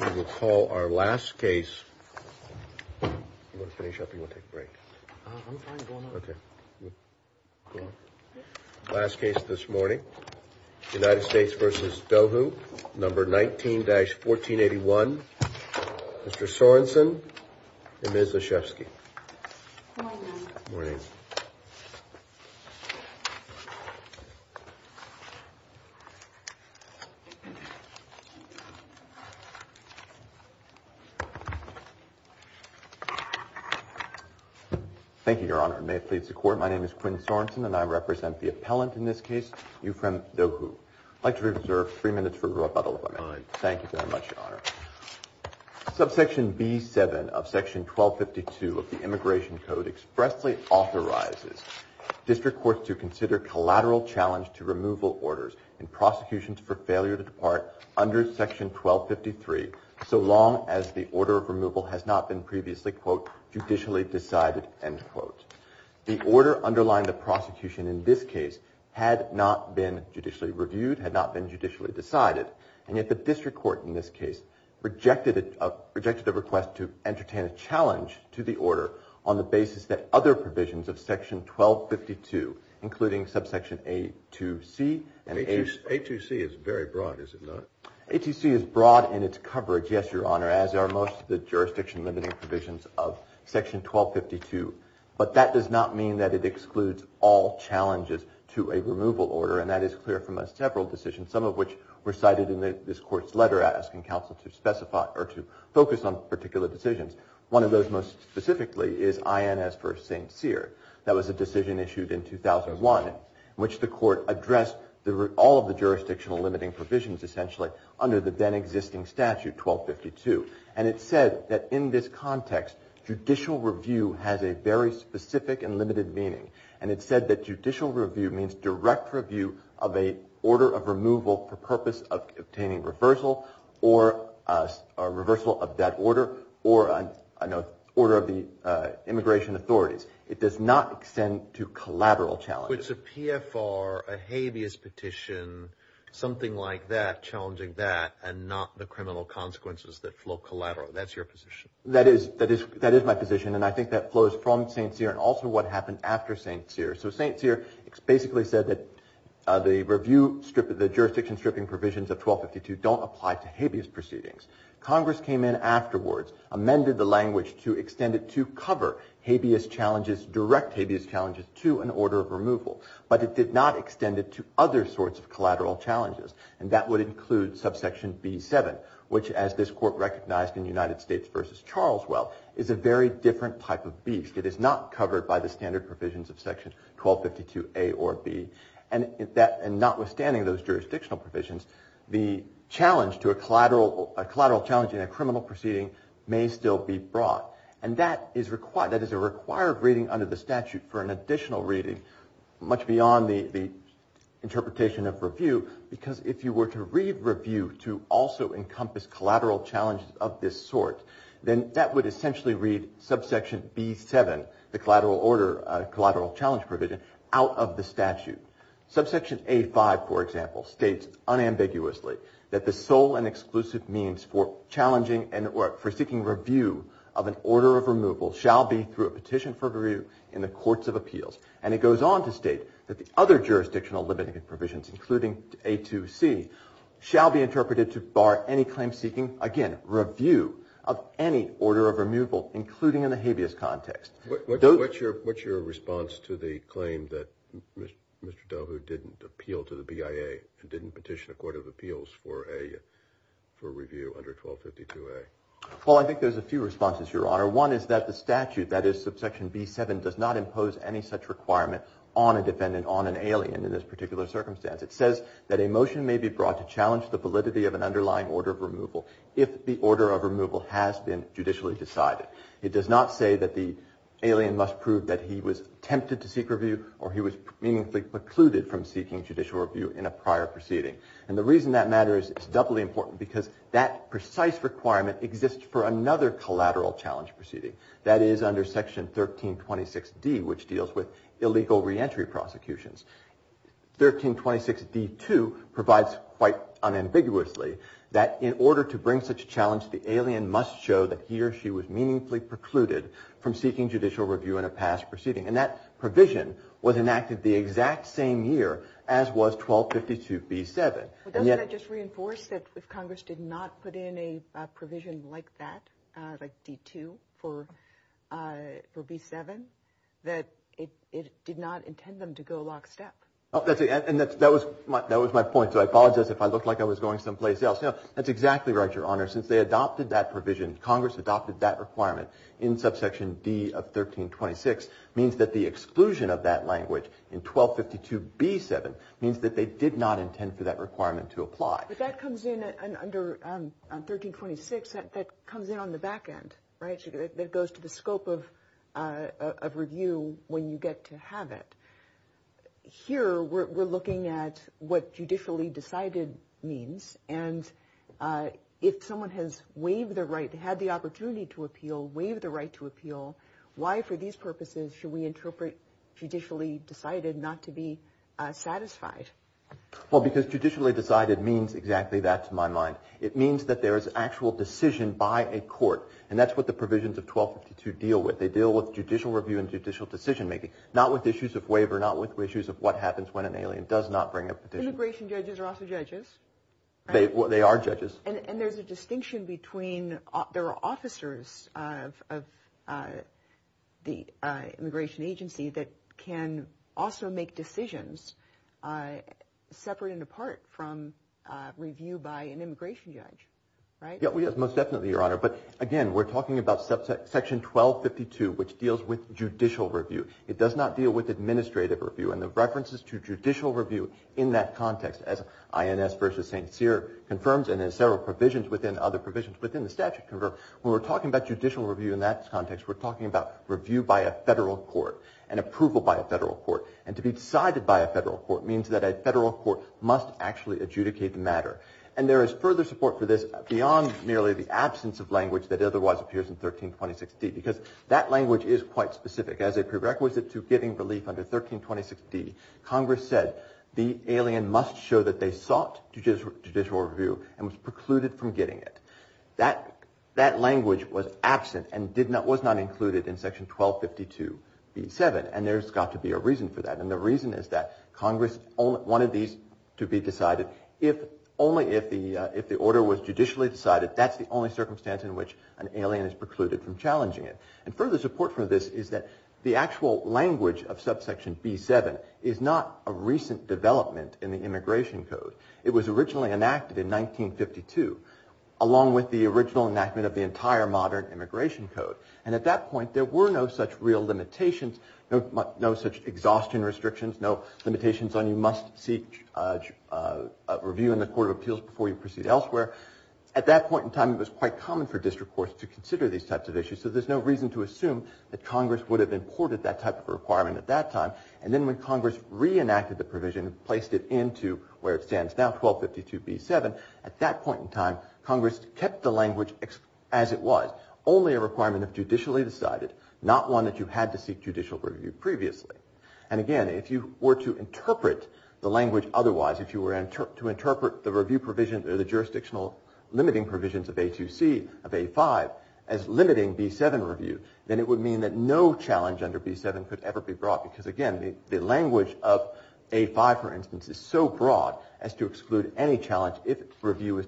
We will call our last case, you want to finish up or you want to take a break? I'm fine, go on. Okay, go on. Last case this morning, United States v. Dohou, number 19-1481, Mr. Sorenson and Ms. Leshefsky. Good morning. Good morning. Thank you, Your Honor, may it please the Court. My name is Quinn Sorenson and I represent the appellant in this case, Euphrem Dohou. I'd like to reserve three minutes for rebuttal if I may. Thank you very much, Your Honor. Subsection B-7 of Section 1252 of the Immigration Code expressly authorizes district courts to consider collateral challenge to removal orders and prosecutions for failure to depart under Section 1253 so long as the order of removal has not been previously, quote, judicially decided, end quote. The order underlying the prosecution in this case had not been judicially reviewed, had not been judicially decided, and yet the district court in this case rejected the request to entertain a challenge to the order on the basis that other provisions of Section 1252, including subsection A-2C and A-2C. A-2C is very broad, is it not? A-2C is broad in its coverage, yes, Your Honor, as are most of the jurisdiction-limiting provisions of Section 1252. But that does not mean that it excludes all challenges to a removal order, and that is clear from several decisions, some of which were cited in this Court's letter asking counsel to specify or to focus on particular decisions. One of those most specifically is INS v. St. Cyr. That was a decision issued in 2001 in which the Court addressed all of the jurisdictional-limiting provisions essentially under the then-existing statute, 1252. And it said that in this context judicial review has a very specific and limited meaning, and it said that judicial review means direct review of an order of removal for purpose of obtaining reversal or a reversal of that order or an order of the immigration authorities. It does not extend to collateral challenges. So it's a PFR, a habeas petition, something like that challenging that and not the criminal consequences that flow collateral. That's your position. That is my position, and I think that flows from St. Cyr and also what happened after St. Cyr. So St. Cyr basically said that the jurisdiction-stripping provisions of 1252 don't apply to habeas proceedings. Congress came in afterwards, amended the language to extend it to cover habeas challenges, direct habeas challenges to an order of removal, but it did not extend it to other sorts of collateral challenges, and that would include subsection B7, which, as this Court recognized in United States v. Charleswell, is a very different type of beast. It is not covered by the standard provisions of Section 1252A or B, and notwithstanding those jurisdictional provisions, the challenge to a collateral challenge in a criminal proceeding may still be brought, and that is a required reading under the statute for an additional reading, much beyond the interpretation of review, because if you were to read review to also encompass collateral challenges of this sort, then that would essentially read subsection B7, the collateral order, collateral challenge provision, out of the statute. Subsection A5, for example, states unambiguously that the sole and exclusive means for challenging and for seeking review of an order of removal shall be through a petition for review in the Courts of Appeals, and it goes on to state that the other jurisdictional limiting provisions, including A2C, shall be interpreted to bar any claim seeking, again, review of any order of removal, including in the habeas context. What's your response to the claim that Mr. Doe who didn't appeal to the BIA and didn't petition the Court of Appeals for review under 1252A? Well, I think there's a few responses, Your Honor. One is that the statute, that is, subsection B7, does not impose any such requirement on a defendant, on an alien in this particular circumstance. It says that a motion may be brought to challenge the validity of an underlying order of removal if the order of removal has been judicially decided. It does not say that the alien must prove that he was tempted to seek review or he was meaningfully precluded from seeking judicial review in a prior proceeding. And the reason that matters is doubly important, because that precise requirement exists for another collateral challenge proceeding. That is under section 1326D, which deals with illegal reentry prosecutions. 1326D2 provides quite unambiguously that in order to bring such a challenge, the alien must show that he or she was meaningfully precluded from seeking judicial review in a past proceeding. And that provision was enacted the exact same year as was 1252B7. But doesn't that just reinforce that if Congress did not put in a provision like that, like D2 for B7, that it did not intend them to go lockstep? And that was my point, so I apologize if I looked like I was going someplace else. No, that's exactly right, Your Honor. Since they adopted that provision, Congress adopted that requirement in subsection D of 1326, means that the exclusion of that language in 1252B7 means that they did not intend for that requirement to apply. But that comes in under 1326, that comes in on the back end, right? That goes to the scope of review when you get to have it. Here we're looking at what judicially decided means, and if someone has waived the right, had the opportunity to appeal, waived the right to appeal, why for these purposes should we interpret judicially decided not to be satisfied? Well, because judicially decided means exactly that to my mind. It means that there is actual decision by a court, and that's what the provisions of 1252 deal with. They deal with judicial review and judicial decision making, not with issues of waiver, not with issues of what happens when an alien does not bring a petition. Immigration judges are also judges, right? They are judges. And there's a distinction between there are officers of the immigration agency that can also make decisions separate and apart from review by an immigration judge, right? Yes, most definitely, Your Honor. But, again, we're talking about Section 1252, which deals with judicial review. It does not deal with administrative review. And the references to judicial review in that context, as INS v. St. Cyr confirms and in several provisions within other provisions within the statute, when we're talking about judicial review in that context, we're talking about review by a federal court. And approval by a federal court. And to be decided by a federal court means that a federal court must actually adjudicate the matter. And there is further support for this beyond merely the absence of language that otherwise appears in 1326D. Because that language is quite specific. As a prerequisite to giving relief under 1326D, Congress said the alien must show that they sought judicial review and was precluded from getting it. That language was absent and was not included in Section 1252B7. And there's got to be a reason for that. And the reason is that Congress wanted these to be decided only if the order was judicially decided. That's the only circumstance in which an alien is precluded from challenging it. And further support for this is that the actual language of Subsection B7 is not a recent development in the Immigration Code. It was originally enacted in 1952, along with the original enactment of the entire modern Immigration Code. And at that point, there were no such real limitations, no such exhaustion restrictions, no limitations on you must seek review in the Court of Appeals before you proceed elsewhere. At that point in time, it was quite common for district courts to consider these types of issues. So there's no reason to assume that Congress would have imported that type of requirement at that time. And then when Congress reenacted the provision, placed it into where it stands now, 1252B7, at that point in time, Congress kept the language as it was, only a requirement of judicially decided, not one that you had to seek judicial review previously. And again, if you were to interpret the language otherwise, if you were to interpret the review provision or the jurisdictional limiting provisions of A2C of A5 as limiting B7 review, then it would mean that no challenge under B7 could ever be brought. Because again, the language of A5, for instance, is so broad as to exclude any challenge if review is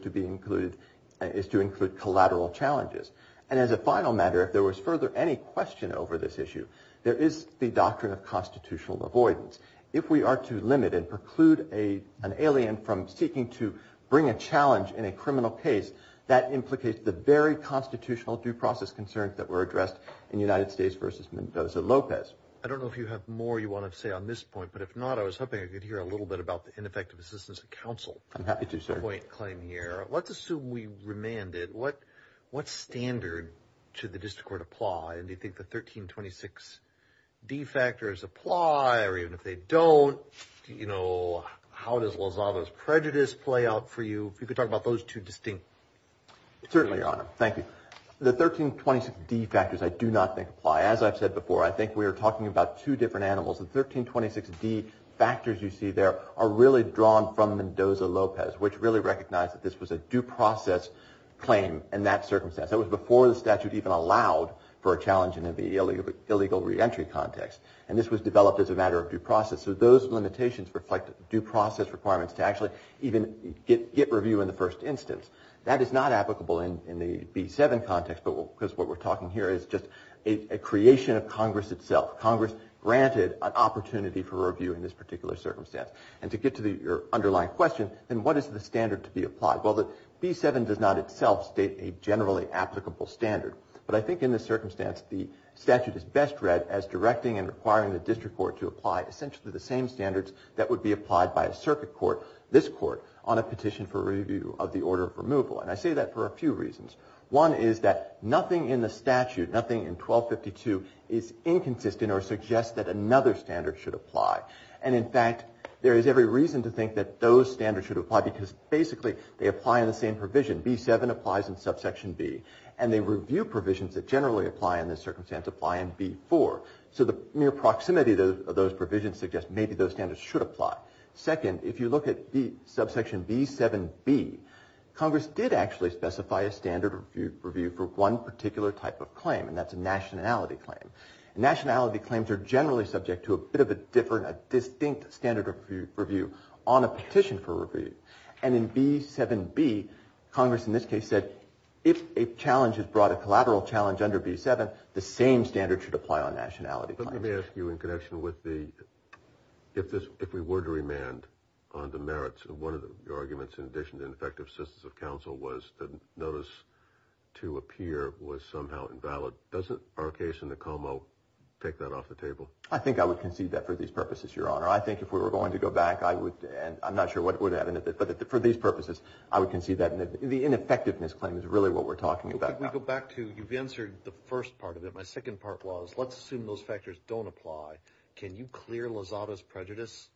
to include collateral challenges. And as a final matter, if there was further any question over this issue, there is the doctrine of constitutional avoidance. If we are to limit and preclude an alien from seeking to bring a challenge in a criminal case, that implicates the very constitutional due process concerns that were addressed in United States v. Mendoza-Lopez. I don't know if you have more you want to say on this point, but if not, I was hoping I could hear a little bit about the ineffective assistance of counsel. I'm happy to, sir. Let's assume we remanded. What standard should the district court apply? And do you think the 1326D factors apply? Or even if they don't, you know, how does Lozada's prejudice play out for you? If you could talk about those two distinct. Certainly, Your Honor. Thank you. The 1326D factors I do not think apply. As I've said before, I think we are talking about two different animals. The 1326D factors you see there are really drawn from Mendoza-Lopez, which really recognized that this was a due process claim in that circumstance. That was before the statute even allowed for a challenge in an illegal reentry context. And this was developed as a matter of due process. So those limitations reflect due process requirements to actually even get review in the first instance. That is not applicable in the B7 context because what we're talking here is just a creation of Congress itself. Congress granted an opportunity for review in this particular circumstance. And to get to your underlying question, then what is the standard to be applied? Well, the B7 does not itself state a generally applicable standard, but I think in this circumstance the statute is best read as directing and requiring the district court to apply essentially the same standards that would be applied by a circuit court, this court, on a petition for review of the order of removal. And I say that for a few reasons. One is that nothing in the statute, nothing in 1252, is inconsistent or suggests that another standard should apply. And, in fact, there is every reason to think that those standards should apply because basically they apply in the same provision. B7 applies in subsection B. And they review provisions that generally apply in this circumstance apply in B4. So the mere proximity of those provisions suggests maybe those standards should apply. Second, if you look at subsection B7B, Congress did actually specify a standard review for one particular type of claim, and that's a nationality claim. Nationality claims are generally subject to a bit of a different, a distinct standard review on a petition for review. And in B7B, Congress in this case said if a challenge has brought a collateral challenge under B7, the same standard should apply on nationality claims. But let me ask you, in connection with the, if we were to remand on the merits of one of the arguments, in addition to ineffective assistance of counsel, was that notice to appear was somehow invalid, doesn't our case in the Como take that off the table? I think I would concede that for these purposes, Your Honor. I think if we were going to go back, I would, and I'm not sure what would happen, but for these purposes I would concede that the ineffectiveness claim is really what we're talking about. If we go back to, you've answered the first part of it. My second part was, let's assume those factors don't apply. Can you clear Lozada's prejudice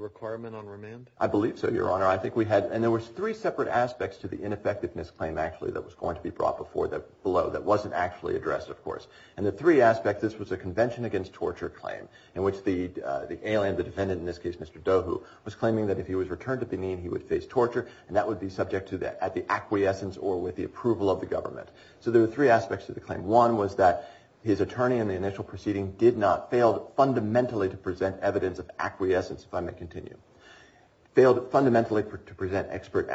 requirement on remand? I believe so, Your Honor. I think we had, and there was three separate aspects to the ineffectiveness claim, actually, that was going to be brought before, below, that wasn't actually addressed, of course. And the three aspects, this was a convention against torture claim, in which the alien, the defendant, in this case Mr. Dohu, was claiming that if he was returned to Benin, he would face torture, and that would be subject to the, at the acquiescence or with the approval of the government. So there were three aspects to the claim. One was that his attorney in the initial proceeding did not, failed fundamentally to present evidence of acquiescence, if I may continue. Failed fundamentally to present expert,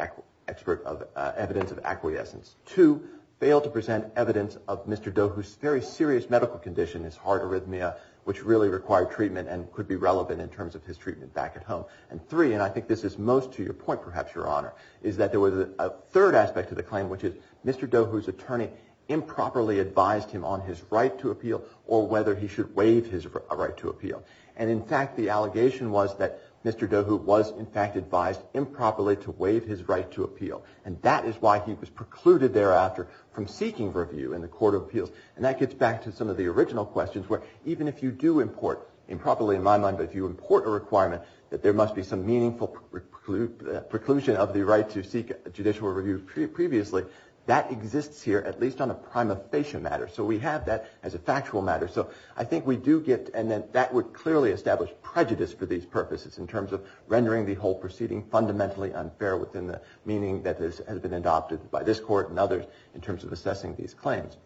expert of evidence of acquiescence. Two, failed to present evidence of Mr. Dohu's very serious medical condition, his heart arrhythmia, which really required treatment and could be relevant in terms of his treatment back at home. And three, and I think this is most to your point, perhaps, Your Honor, is that there was a third aspect to the claim, which is Mr. Dohu's attorney improperly advised him on his right to appeal or whether he should waive his right to appeal. And, in fact, the allegation was that Mr. Dohu was, in fact, advised improperly to waive his right to appeal. And that is why he was precluded thereafter from seeking review in the court of appeals. And that gets back to some of the original questions, where even if you do import, improperly in my mind, if you import a requirement that there must be some meaningful preclusion of the right to seek judicial review previously, that exists here at least on a prima facie matter. So we have that as a factual matter. So I think we do get, and that would clearly establish prejudice for these purposes in terms of rendering the whole proceeding fundamentally unfair within the meaning that has been adopted by this court and others in terms of assessing these claims.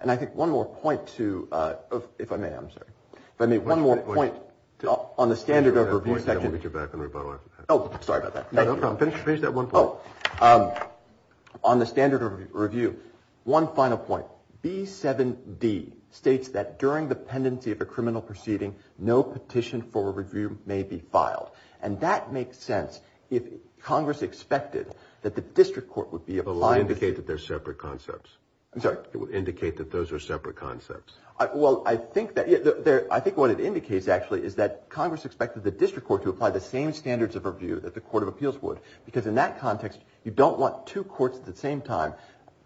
And I think one more point to, if I may, I'm sorry. If I may, one more point on the standard of review section. Oh, sorry about that. No problem. Finish that one point. On the standard of review, one final point. B7D states that during the pendency of a criminal proceeding, no petition for review may be filed. And that makes sense if Congress expected that the district court would be applying. It would indicate that they're separate concepts. I'm sorry? It would indicate that those are separate concepts. Well, I think what it indicates actually is that Congress expected the district court to apply the same standards of review that the court of appeals would, because in that context, you don't want two courts at the same time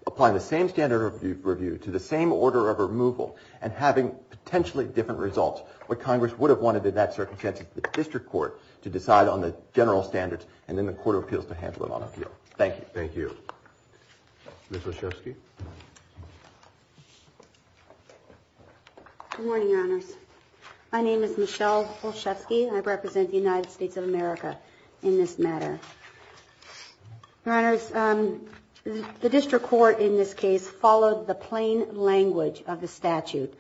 applying the same standard of review to the same order of removal and having potentially different results. What Congress would have wanted in that circumstance is the district court to decide on the general standards and then the court of appeals to handle it on appeal. Thank you. Ms. Olszewski? Good morning, Your Honors. My name is Michelle Olszewski, and I represent the United States of America in this matter. Your Honors, the district court in this case followed the plain language of the statute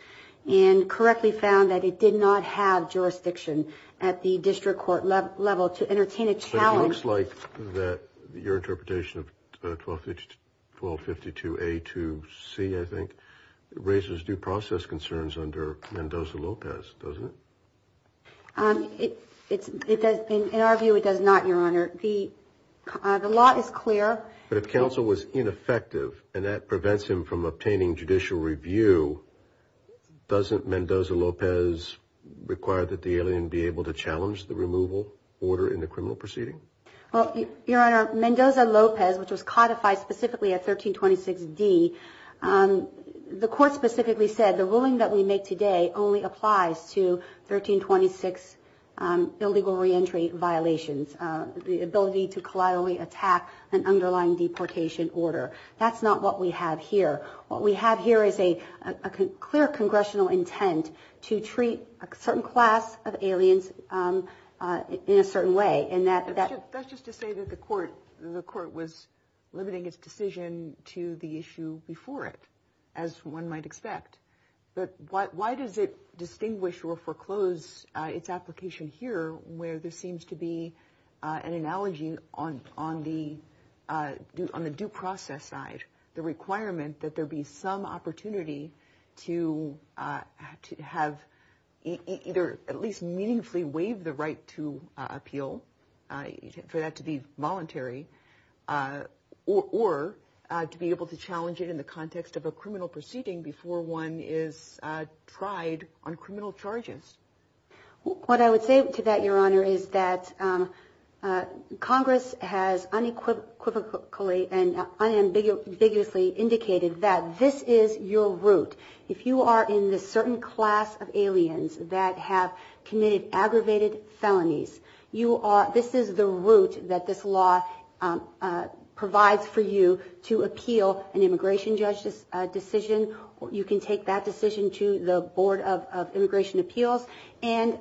and correctly found that it did not have jurisdiction at the district court level to entertain a challenge. It looks like that your interpretation of 1252A2C, I think, raises due process concerns under Mendoza-Lopez, doesn't it? In our view, it does not, Your Honor. The law is clear. But if counsel was ineffective and that prevents him from obtaining judicial review, doesn't Mendoza-Lopez require that the alien be able to challenge the removal order in the criminal proceeding? Well, Your Honor, Mendoza-Lopez, which was codified specifically at 1326D, the court specifically said the ruling that we make today only applies to 1326 illegal reentry violations, the ability to collaterally attack an underlying deportation order. That's not what we have here. What we have here is a clear congressional intent to treat a certain class of aliens in a certain way. That's just to say that the court was limiting its decision to the issue before it, as one might expect. But why does it distinguish or foreclose its application here where there seems to be an analogy on the due process side, the requirement that there be some opportunity to have either at least meaningfully waive the right to appeal, for that to be voluntary, or to be able to challenge it in the context of a criminal proceeding before one is tried on criminal charges? What I would say to that, Your Honor, is that Congress has unequivocally and unambiguously indicated that this is your route. If you are in this certain class of aliens that have committed aggravated felonies, this is the route that this law provides for you to appeal an immigration judge's decision. You can take that decision to the Board of Immigration Appeals and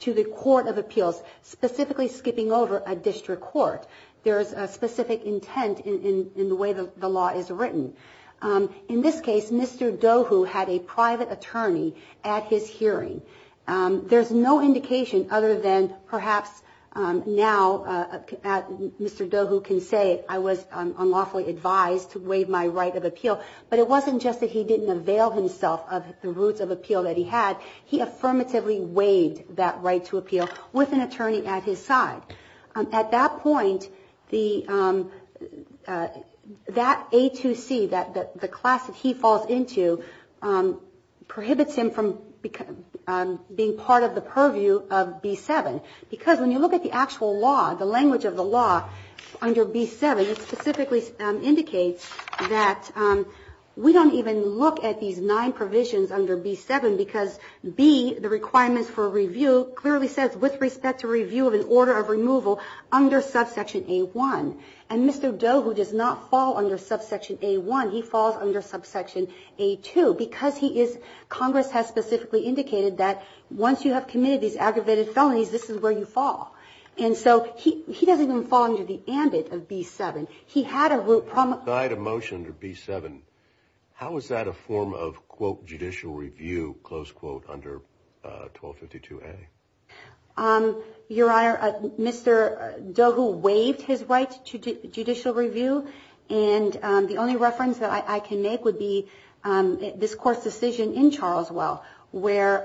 to the Court of Appeals, specifically skipping over a district court. There is a specific intent in the way the law is written. In this case, Mr. Dohu had a private attorney at his hearing. There's no indication other than perhaps now Mr. Dohu can say I was unlawfully advised to waive my right of appeal, but it wasn't just that he didn't avail himself of the routes of appeal that he had. He affirmatively waived that right to appeal with an attorney at his side. At that point, that A2C, the class that he falls into, prohibits him from being part of the purview of B7, we don't even look at these nine provisions under B7 because B, the requirements for review, clearly says with respect to review of an order of removal under subsection A1. And Mr. Dohu does not fall under subsection A1. He falls under subsection A2 because Congress has specifically indicated that once you have committed these aggravated felonies, this is where you fall. And so he doesn't even fall under the ambit of B7. I had a motion to B7. How is that a form of, quote, judicial review, close quote, under 1252A? Your Honor, Mr. Dohu waived his right to judicial review, and the only reference that I can make would be this court's decision in Charles Well, where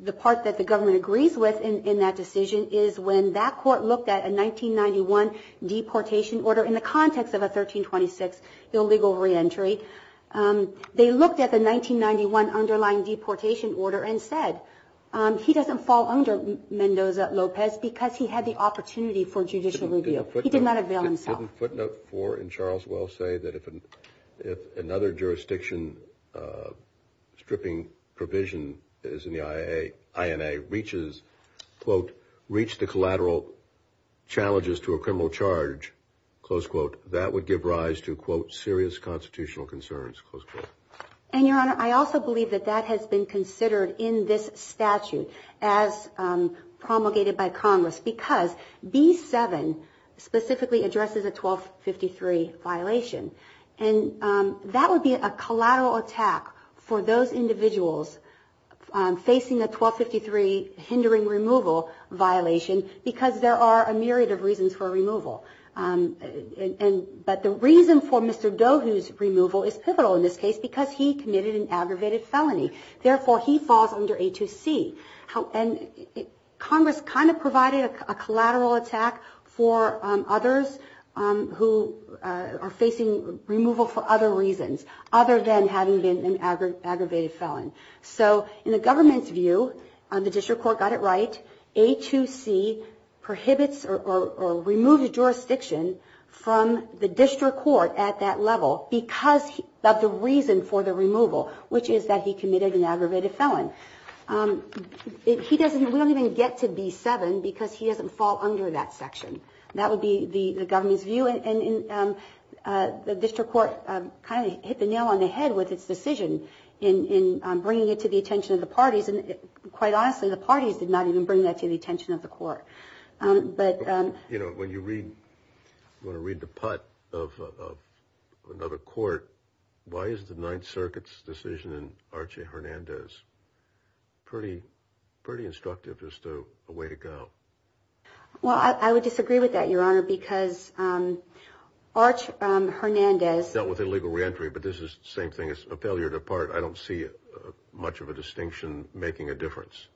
the part that the government agrees with in that decision is when that court looked at a 1991 deportation order in the context of a 1326 illegal reentry. They looked at the 1991 underlying deportation order and said he doesn't fall under Mendoza-Lopez because he had the opportunity for judicial review. He did not avail himself. Doesn't footnote 4 in Charles Well say that if another jurisdiction stripping provision is in the INA, reaches, quote, reach the collateral challenges to a criminal charge, close quote, that would give rise to, quote, serious constitutional concerns, close quote? And, Your Honor, I also believe that that has been considered in this statute as promulgated by Congress because B-7 specifically addresses a 1253 violation, and that would be a collateral attack for those individuals facing a 1253 hindering removal violation because there are a myriad of reasons for removal. But the reason for Mr. Dohu's removal is pivotal in this case because he committed an aggravated felony. Therefore, he falls under A2C. Congress kind of provided a collateral attack for others who are facing removal for other reasons other than having been an aggravated felon. So in the government's view, the district court got it right. A2C prohibits or removes a jurisdiction from the district court at that level because of the reason for the removal, which is that he committed an aggravated felon. We don't even get to B-7 because he doesn't fall under that section. That would be the government's view, and the district court kind of hit the nail on the head with its decision in bringing it to the attention of the parties, and quite honestly, the parties did not even bring that to the attention of the court. You know, when you read the putt of another court, why is the Ninth Circuit's decision in Archie Hernandez pretty instructive, just a way to go? Well, I would disagree with that, Your Honor, because Arch Hernandez… Dealt with illegal reentry, but this is the same thing as a failure to part. I don't see much of a distinction making a difference.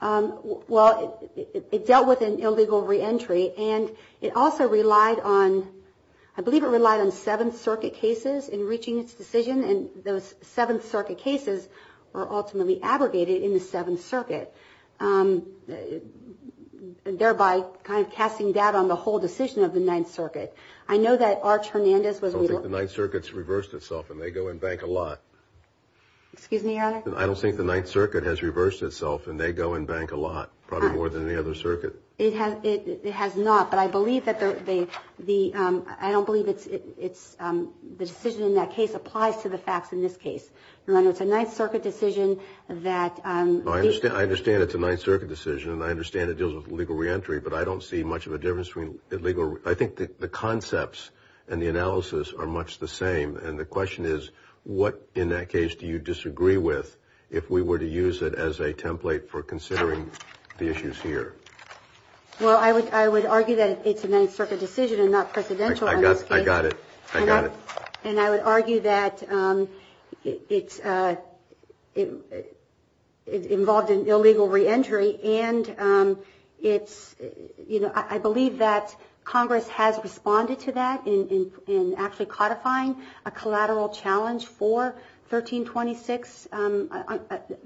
Well, it dealt with an illegal reentry, and it also relied on… I believe it relied on Seventh Circuit cases in reaching its decision, and those Seventh Circuit cases were ultimately abrogated in the Seventh Circuit, thereby kind of casting doubt on the whole decision of the Ninth Circuit. I know that Arch Hernandez was… I don't think the Ninth Circuit's reversed itself, and they go and bank a lot. Excuse me, Your Honor? I don't think the Ninth Circuit has reversed itself, and they go and bank a lot, probably more than any other circuit. It has not, but I believe that the… I don't believe it's… The decision in that case applies to the facts in this case. Your Honor, it's a Ninth Circuit decision that… I understand it's a Ninth Circuit decision, and I understand it deals with illegal reentry, but I don't see much of a difference between illegal… I think the concepts and the analysis are much the same, and the question is what in that case do you disagree with if we were to use it as a template for considering the issues here? Well, I would argue that it's a Ninth Circuit decision and not presidential in this case. I got it. I got it. And I would argue that it's involved in illegal reentry, and I believe that Congress has responded to that in actually codifying a collateral challenge for 1326,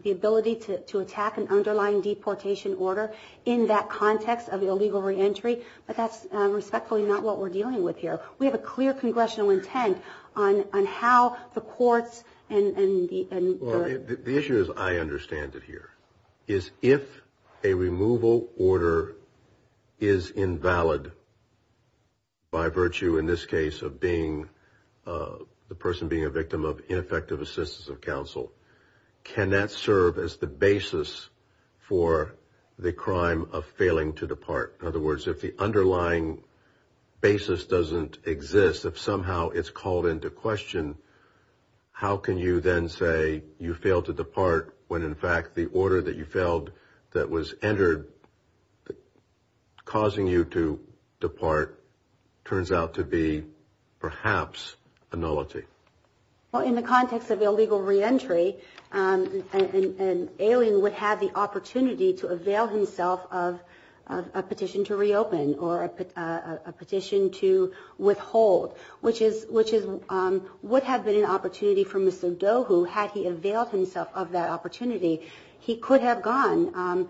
the ability to attack an underlying deportation order in that context of illegal reentry, but that's respectfully not what we're dealing with here. We have a clear congressional intent on how the courts and the… is if a removal order is invalid by virtue, in this case, of the person being a victim of ineffective assistance of counsel, can that serve as the basis for the crime of failing to depart? In other words, if the underlying basis doesn't exist, if somehow it's called into question, how can you then say you failed to depart when in fact the order that you failed that was entered causing you to depart turns out to be perhaps a nullity? Well, in the context of illegal reentry, an alien would have the opportunity to avail himself of a petition to reopen or a petition to withhold, which would have been an opportunity for Mr. Doe, who had he availed himself of that opportunity, he could have gone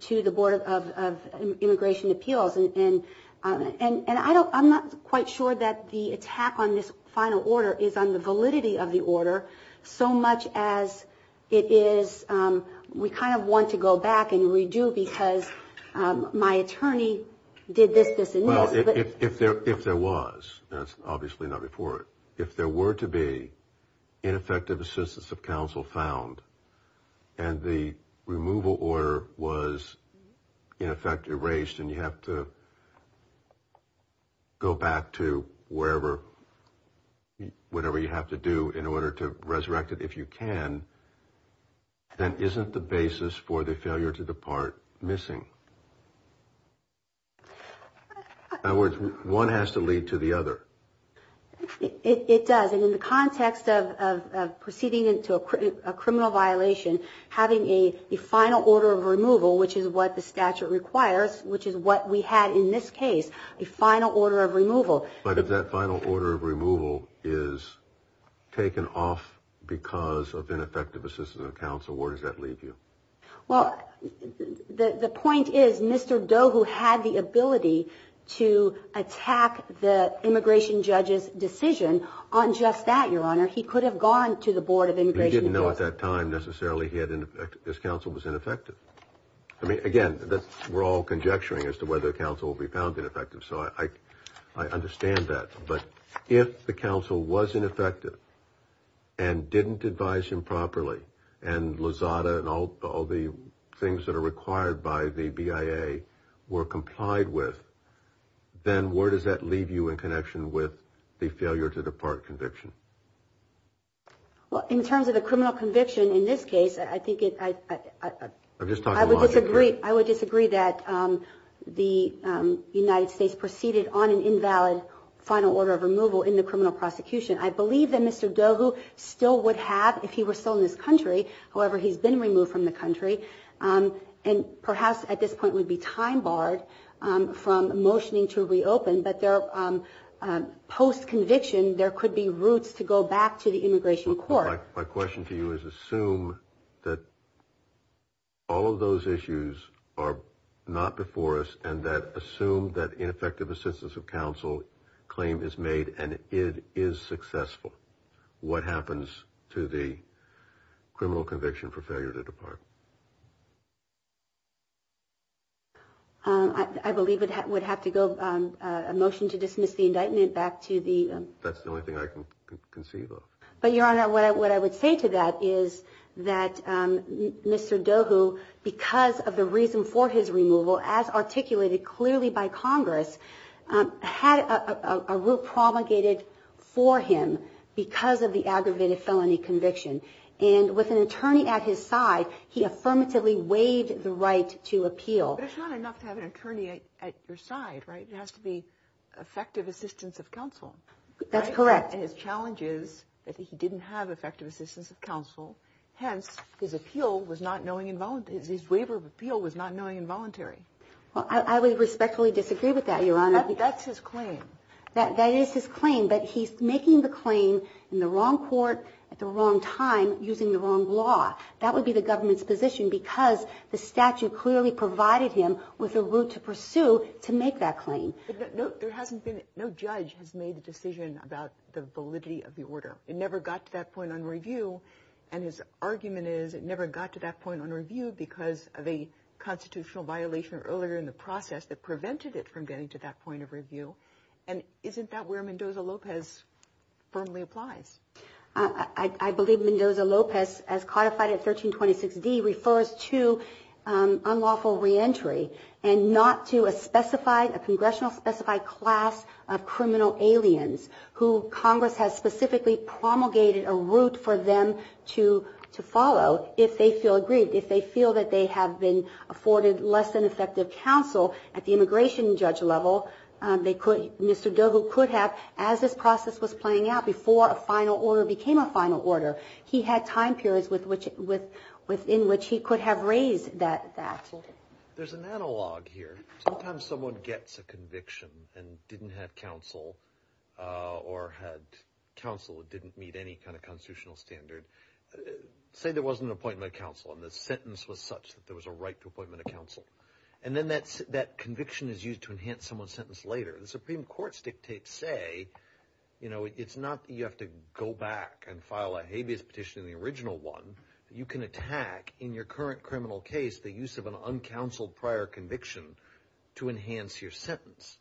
to the Board of Immigration Appeals. And I'm not quite sure that the attack on this final order is on the validity of the order so much as it is we kind of want to go back and redo because my attorney did this, this, and this. If there was, that's obviously not before it, if there were to be ineffective assistance of counsel found and the removal order was in effect erased and you have to go back to whatever you have to do in order to resurrect it if you can, then isn't the basis for the failure to depart missing? In other words, one has to lead to the other. It does. And in the context of proceeding into a criminal violation, having a final order of removal, which is what the statute requires, which is what we had in this case, a final order of removal. But if that final order of removal is taken off because of ineffective assistance of counsel, where does that leave you? Well, the point is Mr. Doe, who had the ability to attack the immigration judge's decision on just that, Your Honor, he could have gone to the Board of Immigration Appeals. He didn't know at that time necessarily this counsel was ineffective. I mean, again, we're all conjecturing as to whether counsel will be found ineffective. So I understand that. But if the counsel was ineffective and didn't advise him properly, and Lozada and all the things that are required by the BIA were complied with, then where does that leave you in connection with the failure to depart conviction? Well, in terms of the criminal conviction in this case, I think it – I'm just talking logic here. I would disagree that the United States proceeded on an invalid final order of removal in the criminal prosecution. I believe that Mr. Doe, who still would have if he were still in this country, however, he's been removed from the country, and perhaps at this point would be time barred from motioning to reopen, but post-conviction there could be routes to go back to the immigration court. My question to you is assume that all of those issues are not before us and that assume that ineffective assistance of counsel claim is made and it is successful. What happens to the criminal conviction for failure to depart? I believe it would have to go – a motion to dismiss the indictment back to the – That's the only thing I can conceive of. But, Your Honor, what I would say to that is that Mr. Doe, who because of the reason for his removal, as articulated clearly by Congress, had a route promulgated for him because of the aggravated felony conviction, and with an attorney at his side, he affirmatively waived the right to appeal. But it's not enough to have an attorney at your side, right? It has to be effective assistance of counsel. That's correct. And his challenge is that he didn't have effective assistance of counsel. Hence, his appeal was not knowing involuntary. His waiver of appeal was not knowing involuntary. Well, I would respectfully disagree with that, Your Honor. That's his claim. That is his claim, but he's making the claim in the wrong court at the wrong time using the wrong law. That would be the government's position because the statute clearly provided him with a route to pursue to make that claim. But no judge has made a decision about the validity of the order. It never got to that point on review, and his argument is it never got to that point on review because of a constitutional violation earlier in the process that prevented it from getting to that point of review. And isn't that where Mendoza-Lopez firmly applies? I believe Mendoza-Lopez, as codified at 1326D, refers to unlawful reentry and not to a specified, a congressional-specified class of criminal aliens who Congress has specifically promulgated a route for them to follow if they feel aggrieved, if they feel that they have been afforded less than effective counsel at the immigration judge level. Mr. Dovo could have, as this process was playing out, before a final order became a final order. He had time periods within which he could have raised that. There's an analog here. Sometimes someone gets a conviction and didn't have counsel or had counsel that didn't meet any kind of constitutional standard. Say there wasn't an appointment of counsel and the sentence was such that there was a right to appointment of counsel. And then that conviction is used to enhance someone's sentence later. The Supreme Court's dictates say, you know, it's not that you have to go back and file a habeas petition in the original one. You can attack in your current criminal case the use of an uncounseled prior conviction to enhance your sentence.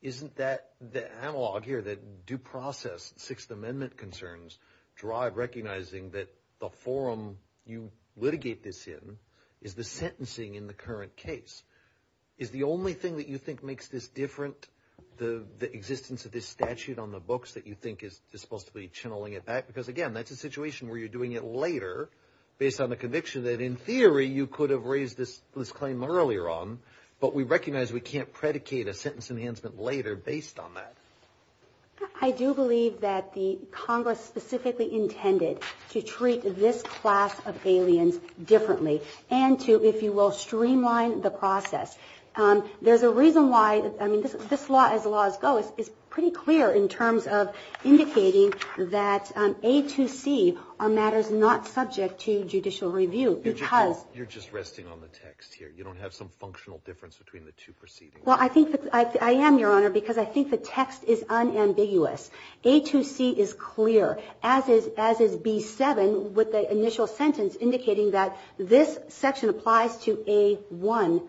Isn't that the analog here that due process Sixth Amendment concerns drive recognizing that the forum you litigate this in is the sentencing in the current case? Is the only thing that you think makes this different, the existence of this statute on the books that you think is supposed to be channeling it back? Because, again, that's a situation where you're doing it later based on the conviction that, in theory, you could have raised this claim earlier on. But we recognize we can't predicate a sentence enhancement later based on that. I do believe that the Congress specifically intended to treat this class of aliens differently and to, if you will, streamline the process. There's a reason why, I mean, this law as the laws go is pretty clear in terms of indicating that A2C are matters not subject to judicial review. You're just resting on the text here. You don't have some functional difference between the two proceedings. Well, I think I am, Your Honor, because I think the text is unambiguous. A2C is clear, as is B7 with the initial sentence indicating that this section applies to A1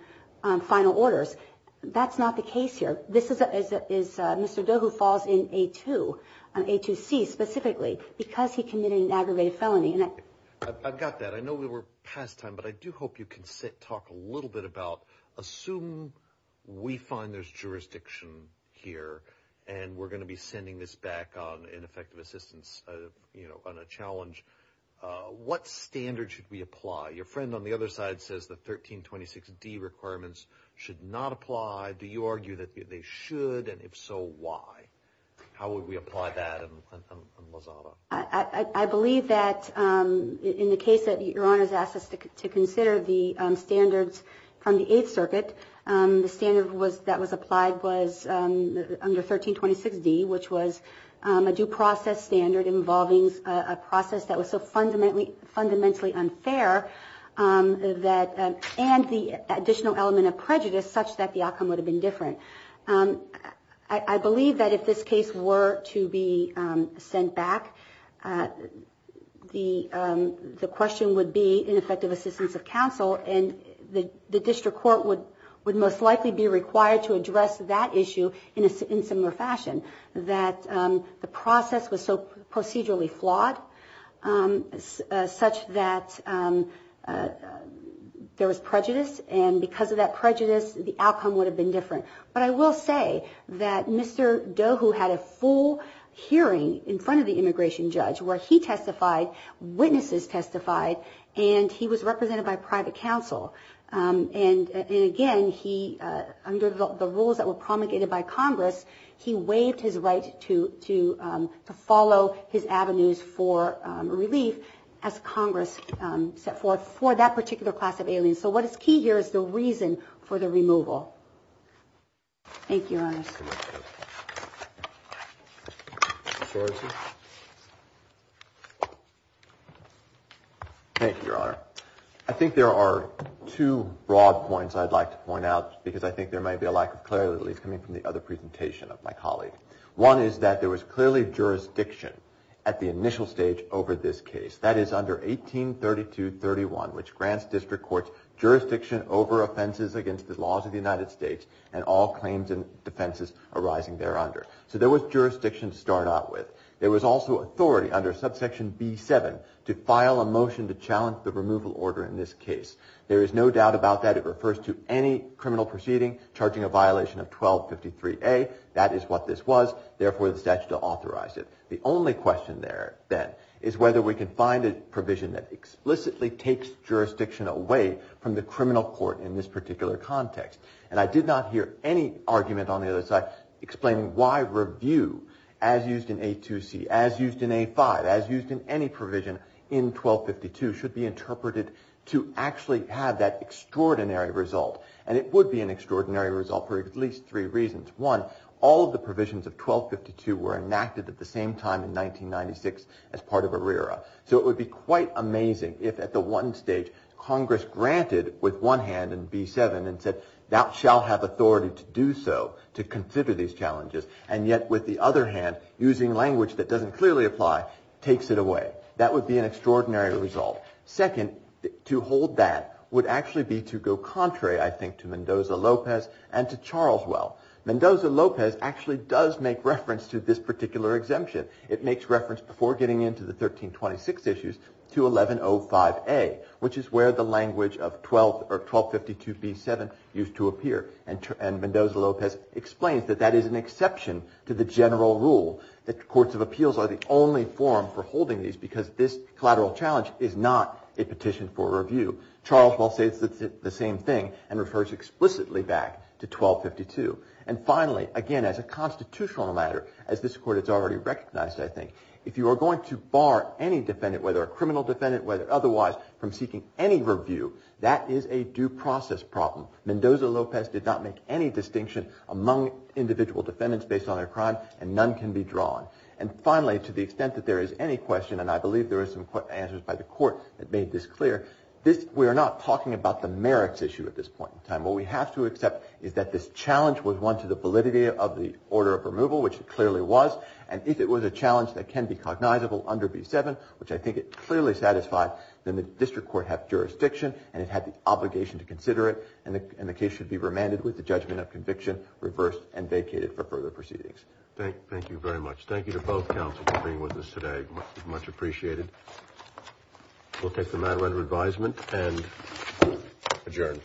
final orders. That's not the case here. This is Mr. Doe who falls in A2, A2C specifically, because he committed an aggravated felony. I've got that. I know we're past time, but I do hope you can talk a little bit about, assume we find there's jurisdiction here and we're going to be sending this back on ineffective assistance, you know, on a challenge. What standard should we apply? Your friend on the other side says the 1326D requirements should not apply. Do you argue that they should, and if so, why? How would we apply that on Lozada? I believe that in the case that Your Honor has asked us to consider the standards from the Eighth Circuit, the standard that was applied was under 1326D, which was a due process standard involving a process that was so fundamentally unfair and the additional element of prejudice such that the outcome would have been different. I believe that if this case were to be sent back, the question would be ineffective assistance of counsel, and the district court would most likely be required to address that issue in a similar fashion, that the process was so procedurally flawed such that there was prejudice, and because of that prejudice, the outcome would have been different. But I will say that Mr. Doe, who had a full hearing in front of the immigration judge, where he testified, witnesses testified, and he was represented by private counsel, and again, under the rules that were promulgated by Congress, he waived his right to follow his avenues for relief as Congress set forth for that particular class of aliens. So what is key here is the reason for the removal. Thank you, Your Honors. Thank you, Your Honor. I think there are two broad points I'd like to point out, because I think there may be a lack of clarity coming from the other presentation of my colleague. One is that there was clearly jurisdiction at the initial stage over this case. That is under 1832-31, which grants district courts jurisdiction over offenses against the laws of the United States and all claims and defenses arising there under. So there was jurisdiction to start out with. There was also authority under subsection B-7 to file a motion to challenge the removal order in this case. There is no doubt about that. It refers to any criminal proceeding charging a violation of 1253-A. That is what this was. Therefore, the statute will authorize it. The only question there, then, is whether we can find a provision that explicitly takes jurisdiction away from the criminal court in this particular context. And I did not hear any argument on the other side explaining why review as used in A-2C, as used in A-5, as used in any provision in 1252 should be interpreted to actually have that extraordinary result. And it would be an extraordinary result for at least three reasons. One, all of the provisions of 1252 were enacted at the same time in 1996 as part of ARERA. So it would be quite amazing if at the one stage Congress granted with one hand in B-7 and said, thou shalt have authority to do so, to consider these challenges, and yet with the other hand, using language that doesn't clearly apply, takes it away. That would be an extraordinary result. Second, to hold that would actually be to go contrary, I think, to Mendoza-Lopez and to Charleswell. Mendoza-Lopez actually does make reference to this particular exemption. It makes reference, before getting into the 1326 issues, to 1105A, which is where the language of 1252B-7 used to appear. And Mendoza-Lopez explains that that is an exception to the general rule, that courts of appeals are the only forum for holding these because this collateral challenge is not a petition for review. Charleswell says the same thing and refers explicitly back to 1252. And finally, again, as a constitutional matter, as this Court has already recognized, I think, if you are going to bar any defendant, whether a criminal defendant, whether otherwise, from seeking any review, that is a due process problem. Mendoza-Lopez did not make any distinction among individual defendants based on their crime, and none can be drawn. And finally, to the extent that there is any question, and I believe there are some answers by the Court that made this clear, we are not talking about the merits issue at this point in time. What we have to accept is that this challenge was one to the validity of the order of removal, which it clearly was, and if it was a challenge that can be cognizable under B-7, which I think it clearly satisfied, then the district court had jurisdiction and it had the obligation to consider it, and the case should be remanded with the judgment of conviction reversed and vacated for further proceedings. Thank you very much. Thank you to both counsels for being with us today. Much appreciated. We'll take the matter under advisement and adjourn.